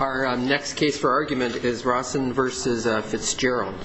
Our next case for argument is Rosson v. Fitzgerald. Mr. McCarville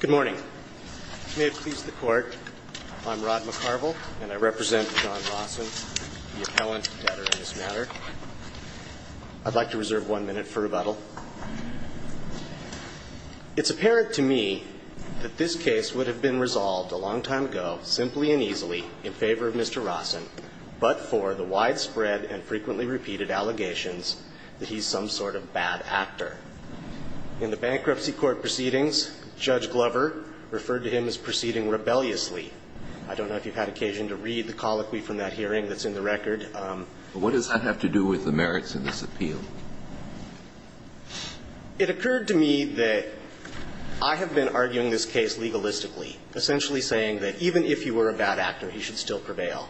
Good morning. May it please the Court, I'm Rod McCarville, and I represent John Rosson, the appellant debtor in this matter. I'd like to reserve one minute for rebuttal. It's apparent to me that this case would have been resolved a long time ago, simply and easily, in favor of Mr. Rosson, but for the widespread and frequently repeated allegations that he's some sort of bad actor. In the bankruptcy court proceedings, Judge Glover referred to him as proceeding rebelliously. I don't know if you've had occasion to read the colloquy from that hearing that's in the record. But what does that have to do with the merits in this appeal? It occurred to me that I have been arguing this case legalistically, essentially saying that even if he were a bad actor, he should still prevail.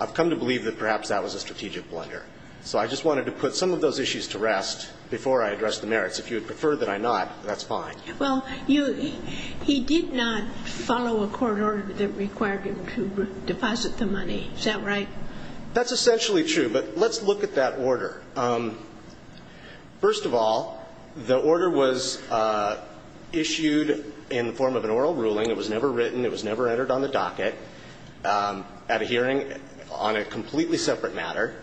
I've come to believe that perhaps that was a strategic blunder. So I just wanted to put some of those issues to rest before I address the merits. If you would prefer that I not, that's fine. Well, he did not follow a court order that required him to deposit the money. Is that right? That's essentially true. But let's look at that order. First of all, the order was issued in the form of an oral ruling. It was never written. It was never entered on the docket at a hearing on a completely separate matter.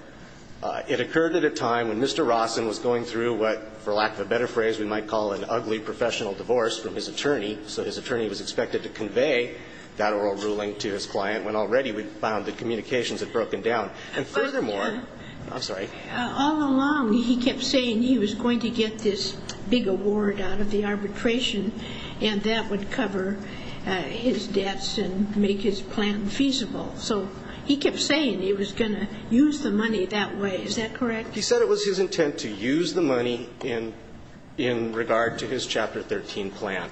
It occurred at a time when Mr. Rawson was going through what, for lack of a better phrase we might call an ugly professional divorce from his attorney. So his attorney was expected to convey that oral ruling to his client when already we found that communications had broken down. And furthermore, I'm sorry. All along he kept saying he was going to get this big award out of the arbitration and that would cover his debts and make his plan feasible. So he kept saying he was going to use the money that way. Is that correct? He said it was his intent to use the money in regard to his Chapter 13 plan.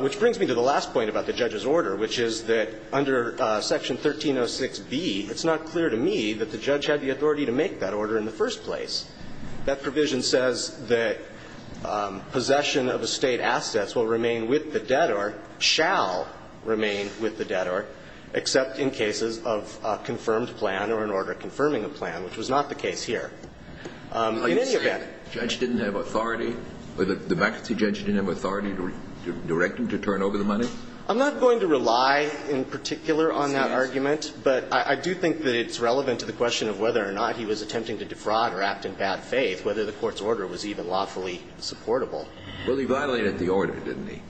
Which brings me to the last point about the judge's order, which is that under Section 1306b, it's not clear to me that the judge had the authority to make that order in the first place. That provision says that possession of estate assets will remain with the debtor shall remain with the debtor except in cases of a confirmed plan or an order confirming a plan, which was not the case here. In any event the judge didn't have authority, the vacancy judge didn't have authority to direct him to turn over the money? I'm not going to rely in particular on that argument, but I do think that it's relevant to the question of whether or not he was attempting to defraud or act in bad faith, whether the Court's order was even lawfully supportable. Well, he violated the order, didn't he?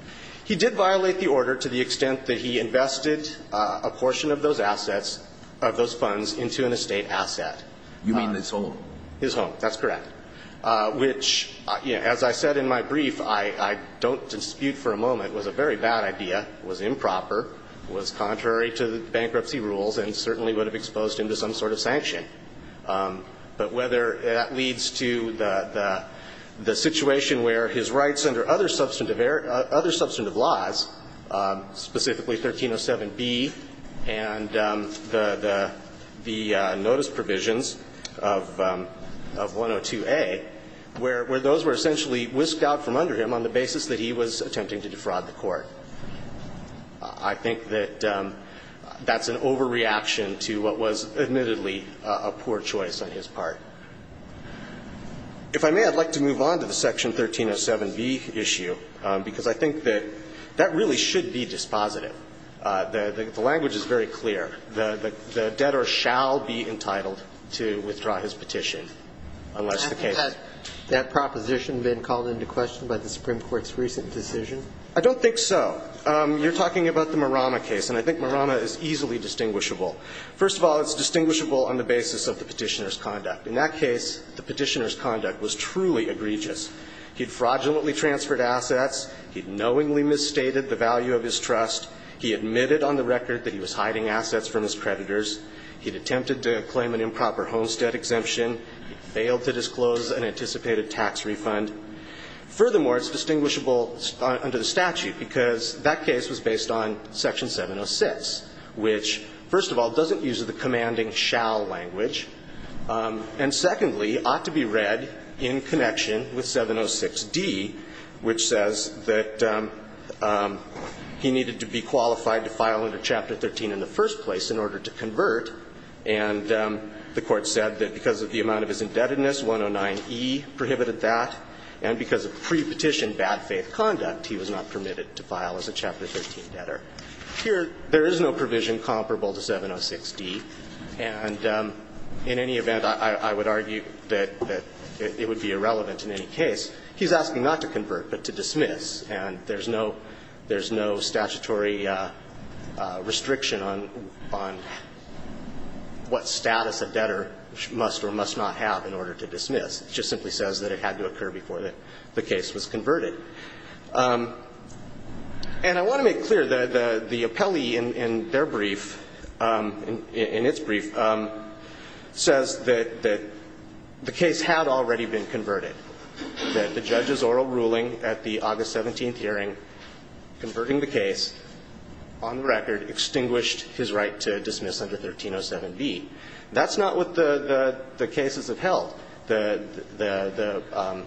He did violate the order to the extent that he invested a portion of those assets of those funds into an estate asset. You mean his home? His home. That's correct. Which, as I said in my brief, I don't dispute for a moment, was a very bad idea, was improper, was contrary to the bankruptcy rules and certainly would have exposed him to some sort of sanction. But whether that leads to the situation where his rights under other substantive laws, specifically 1307b and the notice provisions of 102a, where those were essentially whisked out from under him on the basis that he was attempting to defraud the Court. I think that that's an overreaction to what was admittedly a poor choice on his part. If I may, I'd like to move on to the section 1307b issue, because I think that that really should be dispositive. The language is very clear. The debtor shall be entitled to withdraw his petition unless the case. Has that proposition been called into question by the Supreme Court's recent decision? I don't think so. You're talking about the Marama case, and I think Marama is easily distinguishable. First of all, it's distinguishable on the basis of the petitioner's conduct. In that case, the petitioner's conduct was truly egregious. He had fraudulently transferred assets. He had knowingly misstated the value of his trust. He admitted on the record that he was hiding assets from his creditors. He had attempted to claim an improper homestead exemption. He failed to disclose an anticipated tax refund. Furthermore, it's distinguishable under the statute, because that case was based on section 706, which, first of all, doesn't use the commanding shall language, and secondly, ought to be read in connection with 706d, which says that he needed to be qualified to file under Chapter 13 in the first place in order to convert. And the Court said that because of the amount of his indebtedness, 109e prohibited that, and because of pre-petition bad faith conduct, he was not permitted to file as a Chapter 13 debtor. Here, there is no provision comparable to 706d, and in any event, I would argue that it would be irrelevant in any case. He's asking not to convert, but to dismiss, and there's no statutory restriction on what status a debtor must or must not have in order to dismiss. It just simply says that it had to occur before the case was converted. And I want to make clear, the appellee in their brief, in its brief, says that the case had already been converted, that the judge's oral ruling at the August 17th converting the case on the record extinguished his right to dismiss under 1307b. That's not what the cases have held. The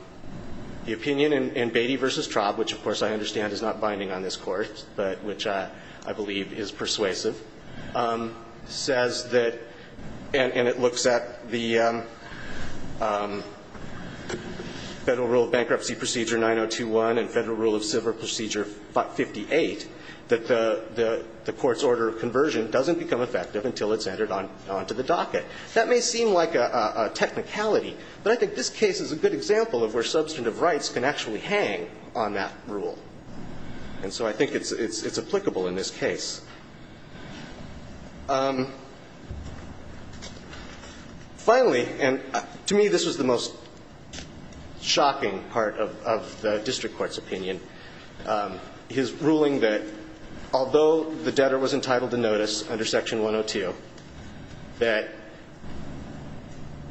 opinion in Beatty v. Traub, which of course I understand is not binding on this Court, but which I believe is persuasive, says that, and it looks at the Federal Rule of Bankruptcy Procedure 9021 and Federal Rule of Civil Procedure 58, that the Court's order of conversion doesn't become effective until it's entered onto the docket. That may seem like a technicality, but I think this case is a good example of where substantive rights can actually hang on that rule. And so I think it's applicable in this case. Finally, and to me this was the most shocking part of the district court's opinion, his ruling that although the debtor was entitled to notice under Section 102, that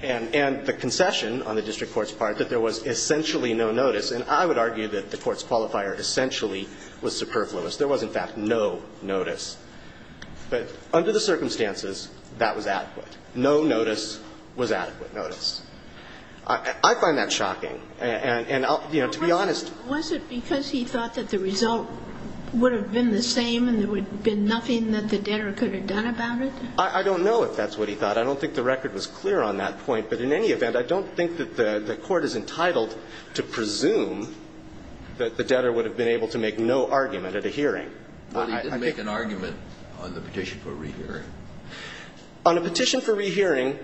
and the concession on the district court's part, that there was essentially no notice. And I would argue that the Court's qualifier essentially was superfluous. There was, in fact, no notice. But under the circumstances, that was adequate. No notice was adequate notice. I find that shocking. And, you know, to be honest ---- Was it because he thought that the result would have been the same and there would have been nothing that the debtor could have done about it? I don't know if that's what he thought. I don't think the record was clear on that point. But in any event, I don't think that the Court is entitled to presume that the debtor would have been able to make no argument at a hearing. I think ---- Well, he didn't make an argument on the petition for rehearing. On a petition for rehearing,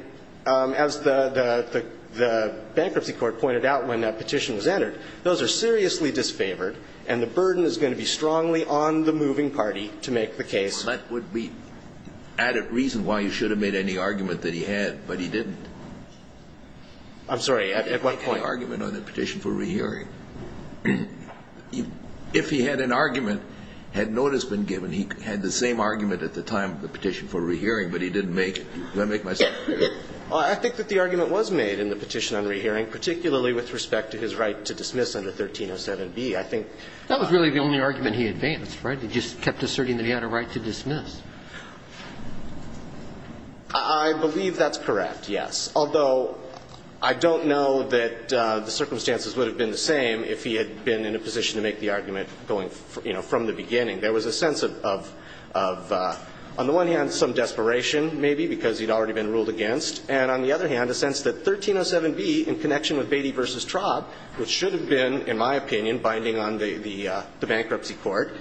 as the bankruptcy court pointed out when that petition was entered, those are seriously disfavored, and the burden is going to be strongly on the moving party to make the case. Well, that would be added reason why you should have made any argument that he had, but he didn't. I'm sorry. At what point? He didn't make any argument on the petition for rehearing. If he had an argument, had notice been given, he had the same argument at the time of the petition for rehearing, but he didn't make it. Do I make myself clear? I think that the argument was made in the petition on rehearing, particularly with respect to his right to dismiss under 1307B. I think ---- That was really the only argument he advanced, right? He just kept asserting that he had a right to dismiss. I believe that's correct, yes. Although, I don't know that the circumstances would have been the same if he had been in a position to make the argument going, you know, from the beginning. There was a sense of, on the one hand, some desperation, maybe, because he'd already been ruled against, and on the other hand, a sense that 1307B, in connection with Beatty v. Traub, which should have been, in my opinion, binding on the bankruptcy court,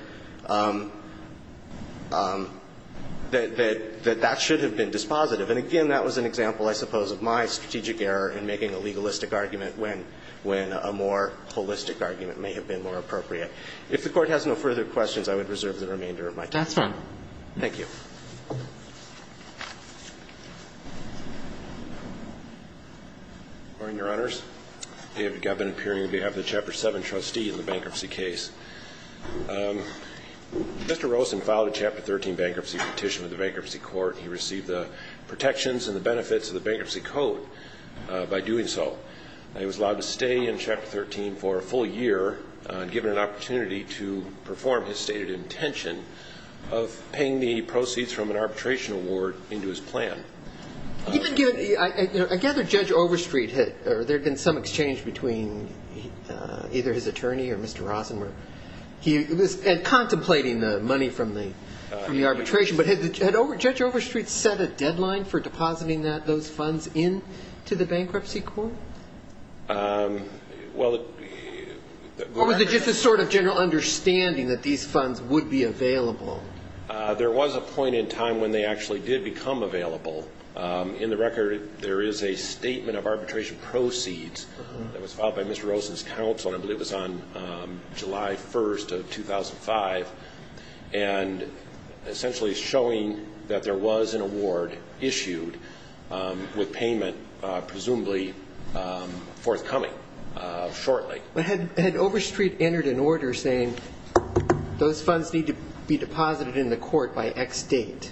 that that should have been dispositive. And again, that was an example, I suppose, of my strategic error in making a legalistic argument when a more holistic argument may have been more appropriate. If the Court has no further questions, I would reserve the remainder of my time. That's fine. Thank you. Your Honors. David Gabin, appearing on behalf of the Chapter 7 trustee in the bankruptcy case. Mr. Rosen filed a Chapter 13 bankruptcy petition with the bankruptcy court. He received the protections and the benefits of the bankruptcy code by doing so. He was allowed to stay in Chapter 13 for a full year and given an opportunity to perform his stated intention of paying the proceeds from an arbitration award into his plan. I gather Judge Overstreet had, or there had been some exchange between either his attorney or Mr. Rosen, and contemplating the money from the arbitration. But had Judge Overstreet set a deadline for depositing those funds into the bankruptcy court? Well, it was just a sort of general understanding that these funds would be available. There was a point in time when they actually did become available. In the record, there is a statement of arbitration proceeds that was filed by Mr. Rosen's counsel. I believe it was on July 1st of 2005. And essentially showing that there was an award issued with payment presumably forthcoming shortly. Had Overstreet entered an order saying those funds need to be deposited in the court by X date?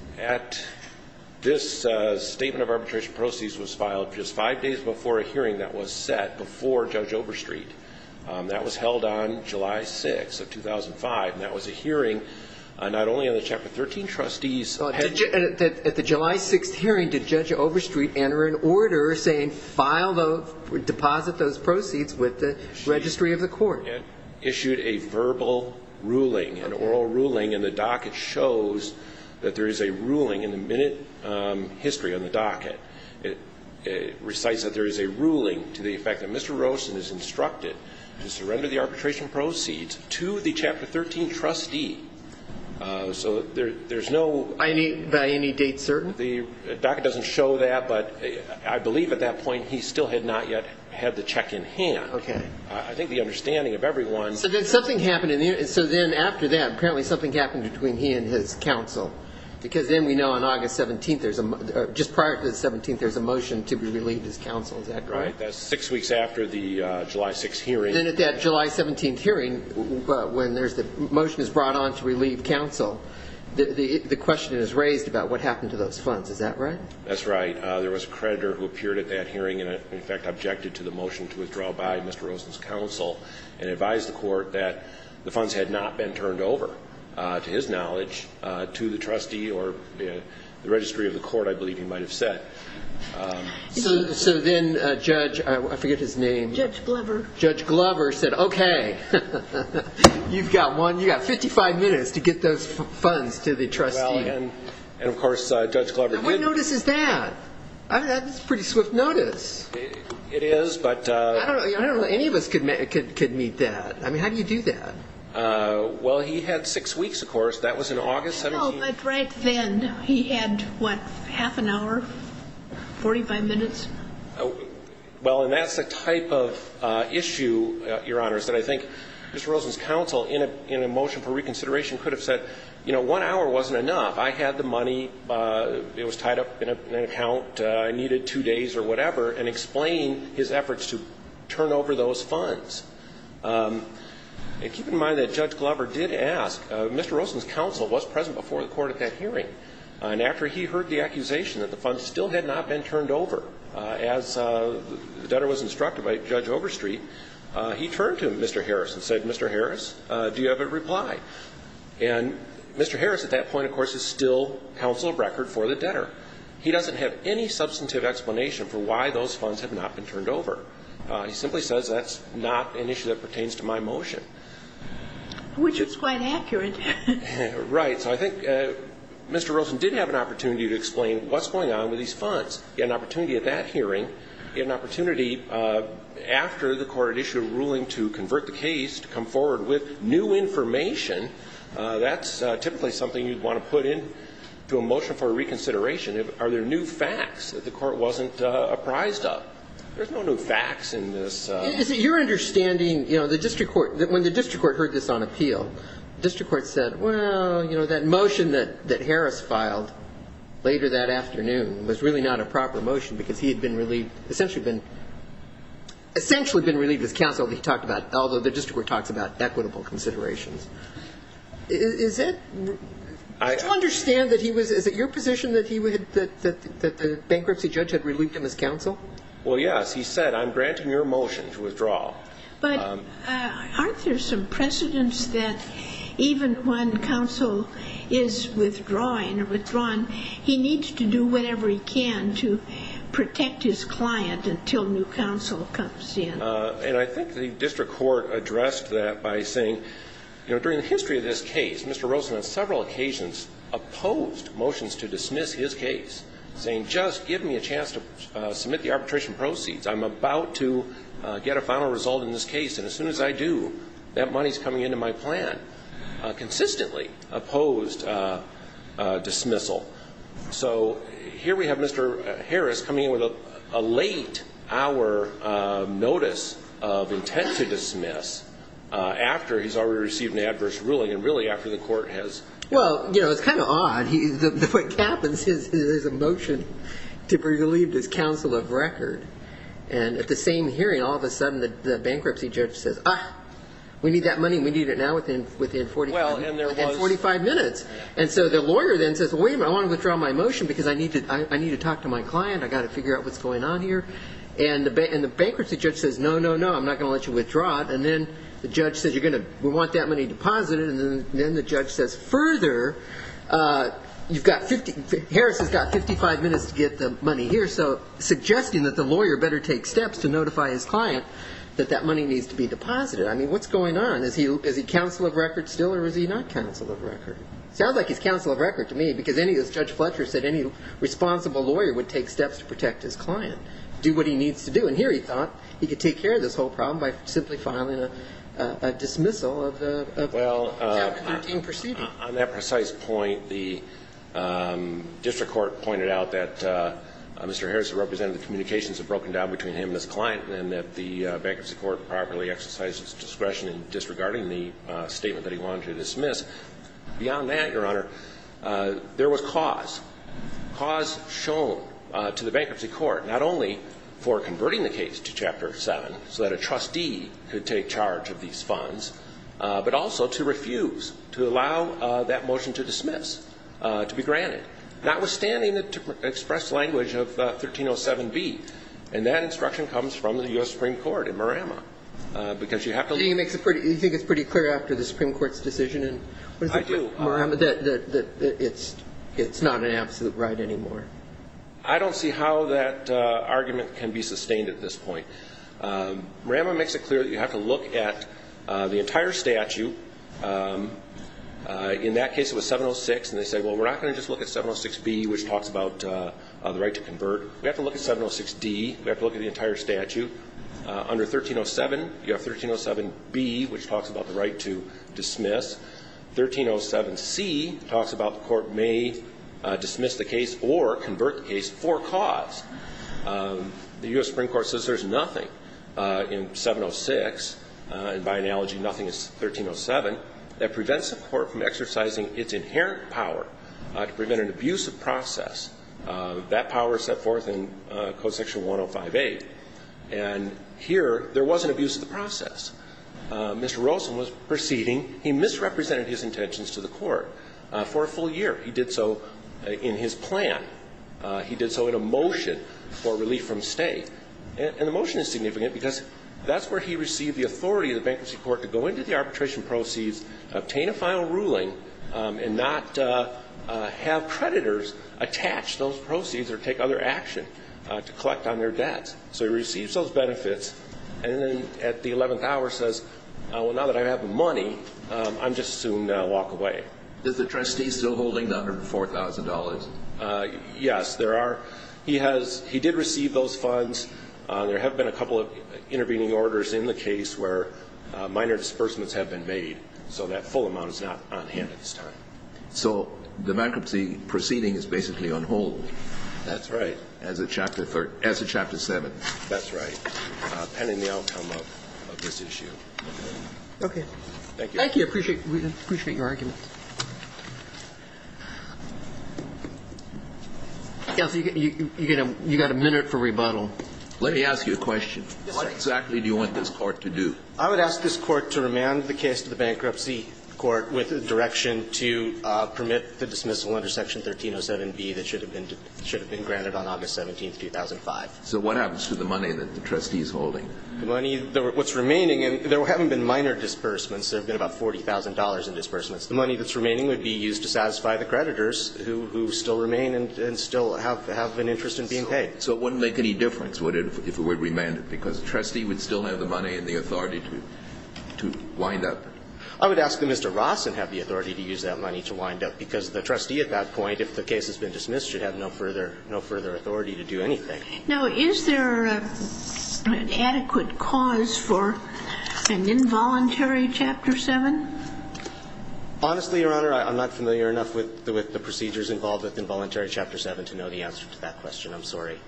This statement of arbitration proceeds was filed just five days before a hearing that was set before Judge Overstreet. That was held on July 6th of 2005. And that was a hearing not only on the Chapter 13 trustees. At the July 6th hearing, did Judge Overstreet enter an order saying file those, deposit those proceeds with the registry of the court? Issued a verbal ruling, an oral ruling. And the docket shows that there is a ruling in the minute history on the docket. It recites that there is a ruling to the effect that Mr. Rosen is instructed to surrender the arbitration proceeds to the Chapter 13 trustee. So there's no. By any date certain? The docket doesn't show that. But I believe at that point he still had not yet had the check in hand. Okay. I think the understanding of everyone. So then something happened. So then after that, apparently something happened between he and his counsel. Because then we know on August 17th, just prior to the 17th, there's a motion to relieve his counsel. Is that correct? That's six weeks after the July 6th hearing. And at that July 17th hearing, when the motion is brought on to relieve counsel, the question is raised about what happened to those funds. Is that right? That's right. There was a creditor who appeared at that hearing and, in fact, objected to the motion to withdraw by Mr. Rosen's counsel and advised the court that the funds had not been turned over, to his knowledge, to the trustee or the registry of the court, I believe he might have said. So then Judge, I forget his name. Judge Glover. Judge Glover said, okay, you've got one. You've got 55 minutes to get those funds to the trustee. And, of course, Judge Glover did. What notice is that? That's a pretty swift notice. It is, but... I don't know that any of us could meet that. I mean, how do you do that? Well, he had six weeks, of course. That was in August 17th. No, but right then he had, what, half an hour, 45 minutes? Well, and that's the type of issue, Your Honors, that I think Mr. Rosen's counsel, in a motion for reconsideration, could have said, you know, one hour wasn't enough. I had the money. It was tied up in an account. I needed two days or whatever, and explain his efforts to turn over those funds. And keep in mind that Judge Glover did ask. Mr. Rosen's counsel was present before the court at that hearing. And after he heard the accusation that the funds still had not been turned over, as the debtor was instructed by Judge Overstreet, he turned to Mr. Harris and said, Mr. Harris, do you have a reply? And Mr. Harris, at that point, of course, is still counsel of record for the debtor. He doesn't have any substantive explanation for why those funds have not been turned over. He simply says that's not an issue that pertains to my motion. Which is quite accurate. Right. So I think Mr. Rosen did have an opportunity to explain what's going on with these funds. He had an opportunity at that hearing, he had an opportunity after the court had issued a ruling to convert the case to come forward with new information. That's typically something you'd want to put into a motion for reconsideration. Are there new facts that the court wasn't apprised of? There's no new facts in this. You're understanding, you know, the district court, when the district court heard this on appeal, the district court said, well, you know, that motion that Harris filed later that afternoon was really not a proper motion because he had been relieved, essentially been relieved of his counsel that he talked about, although the district court talks about equitable considerations. Do you understand that he was, is it your position that the bankruptcy judge had relieved him his counsel? Well, yes. He said, I'm granting your motion to withdraw. But aren't there some precedents that even when counsel is withdrawing, he needs to do whatever he can to protect his client until new counsel comes in? And I think the district court addressed that by saying, you know, during the history of this case, Mr. Rosen on several occasions opposed motions to dismiss his case, saying just give me a chance to submit the arbitration proceeds. I'm about to get a final result in this case. And as soon as I do, that money is coming into my plan, consistently opposed dismissal. So here we have Mr. Harris coming in with a late hour notice of intent to dismiss after he's already received an adverse ruling and really after the court has. Well, you know, it's kind of odd. What happens is there's a motion to relieve his counsel of record. And at the same hearing, all of a sudden the bankruptcy judge says, ah, we need that money. We need it now within 45 minutes. And so the lawyer then says, well, wait a minute. I want to withdraw my motion because I need to talk to my client. I've got to figure out what's going on here. And the bankruptcy judge says, no, no, no, I'm not going to let you withdraw it. And then the judge says, you're going to want that money deposited. And then the judge says, further, you've got 50 ‑‑ Harris has got 55 minutes to get the money here, so suggesting that the lawyer better take steps to notify his client that that money needs to be deposited. I mean, what's going on? Is he counsel of record still or is he not counsel of record? Sounds like he's counsel of record to me because any, as Judge Fletcher said, any responsible lawyer would take steps to protect his client, do what he needs to do. And here he thought he could take care of this whole problem by simply filing a dismissal of the ‑‑ Well, on that precise point, the district court pointed out that Mr. Harris, who represented the communications, had broken down between him and his client and that the bankruptcy court properly exercised its discretion in disregarding the statement that he wanted to dismiss. Beyond that, Your Honor, there was cause, cause shown to the bankruptcy court not only for converting the case to Chapter 7 so that a trustee could take charge of these funds, but also to refuse to allow that motion to dismiss, to be granted, notwithstanding the expressed language of 1307B. And that instruction comes from the U.S. Supreme Court in Marama. Do you think it's pretty clear after the Supreme Court's decision in Marama that it's not an absolute right anymore? I don't see how that argument can be sustained at this point. Marama makes it clear that you have to look at the entire statute. In that case it was 706 and they said, well, we're not going to just look at 706B, which talks about the right to convert. We have to look at 706D, we have to look at the entire statute. Under 1307 you have 1307B, which talks about the right to dismiss. 1307C talks about the court may dismiss the case or convert the case for cause. The U.S. Supreme Court says there's nothing in 706, and by analogy nothing is 1307, that prevents the court from exercising its inherent power to prevent an abusive process. That power is set forth in Code Section 105A. And here there was an abuse of the process. Mr. Rosen was proceeding. He misrepresented his intentions to the court for a full year. He did so in his plan. He did so in a motion for relief from state. And the motion is significant because that's where he received the authority of the bankruptcy court to go into the arbitration proceeds, obtain a final ruling, and not have creditors attach those proceeds or take other action to collect on their debts. So he receives those benefits, and then at the 11th hour says, well, now that I have the money, I'm just going to walk away. Is the trustee still holding the $104,000? Yes, there are. He did receive those funds. There have been a couple of intervening orders in the case where minor disbursements have been made. So that full amount is not on hand at this time. So the bankruptcy proceeding is basically on hold. That's right. As of Chapter 7. That's right, pending the outcome of this issue. Okay. Thank you. Thank you. I appreciate your argument. Counsel, you've got a minute for rebuttal. Let me ask you a question. What exactly do you want this Court to do? I would ask this Court to remand the case to the Bankruptcy Court with a direction to permit the dismissal under Section 1307B that should have been granted on August 17th, 2005. So what happens to the money that the trustee is holding? The money, what's remaining, and there haven't been minor disbursements. There have been about $40,000 in disbursements. The money that's remaining would be used to satisfy the creditors who still remain and still have an interest in being paid. So it wouldn't make any difference if it were remanded because the trustee would still have the money and the authority to wind up. I would ask that Mr. Rossen have the authority to use that money to wind up because the trustee at that point, if the case has been dismissed, should have no further authority to do anything. Now, is there an adequate cause for an involuntary Chapter 7? Honestly, Your Honor, I'm not familiar enough with the procedures involved with involuntary Chapter 7 to know the answer to that question. I'm sorry.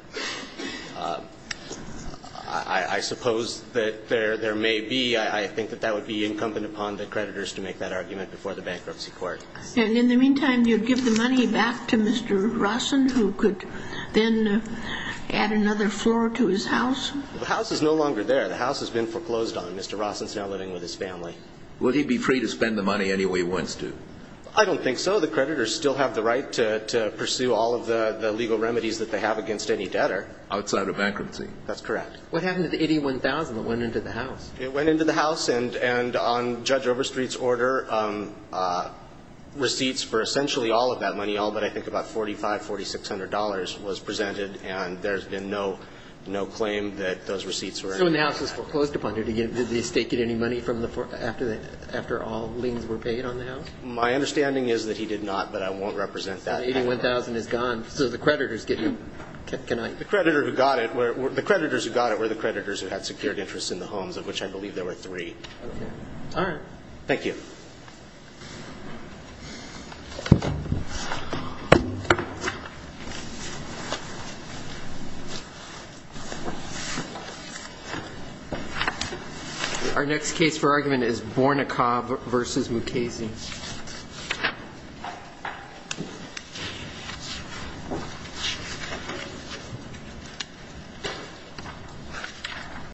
I suppose that there may be. I think that that would be incumbent upon the creditors to make that argument before the bankruptcy court. And in the meantime, you'd give the money back to Mr. Rossen who could then add another floor to his house? The house is no longer there. The house has been foreclosed on. Mr. Rossen is now living with his family. Would he be free to spend the money any way he wants to? I don't think so. Well, the creditors still have the right to pursue all of the legal remedies that they have against any debtor. Outside of bankruptcy. That's correct. What happened to the $81,000 that went into the house? It went into the house. And on Judge Overstreet's order, receipts for essentially all of that money, all but I think about $4,500, $4,600 was presented. And there's been no claim that those receipts were in the house. So when the house was foreclosed upon, did the estate get any money after all liens were paid on the house? My understanding is that he did not, but I won't represent that. $81,000 is gone. So the creditors get nothing. The creditors who got it were the creditors who had secured interest in the homes, of which I believe there were three. All right. Thank you. Our next case for argument is Bornikov v. Mukasey.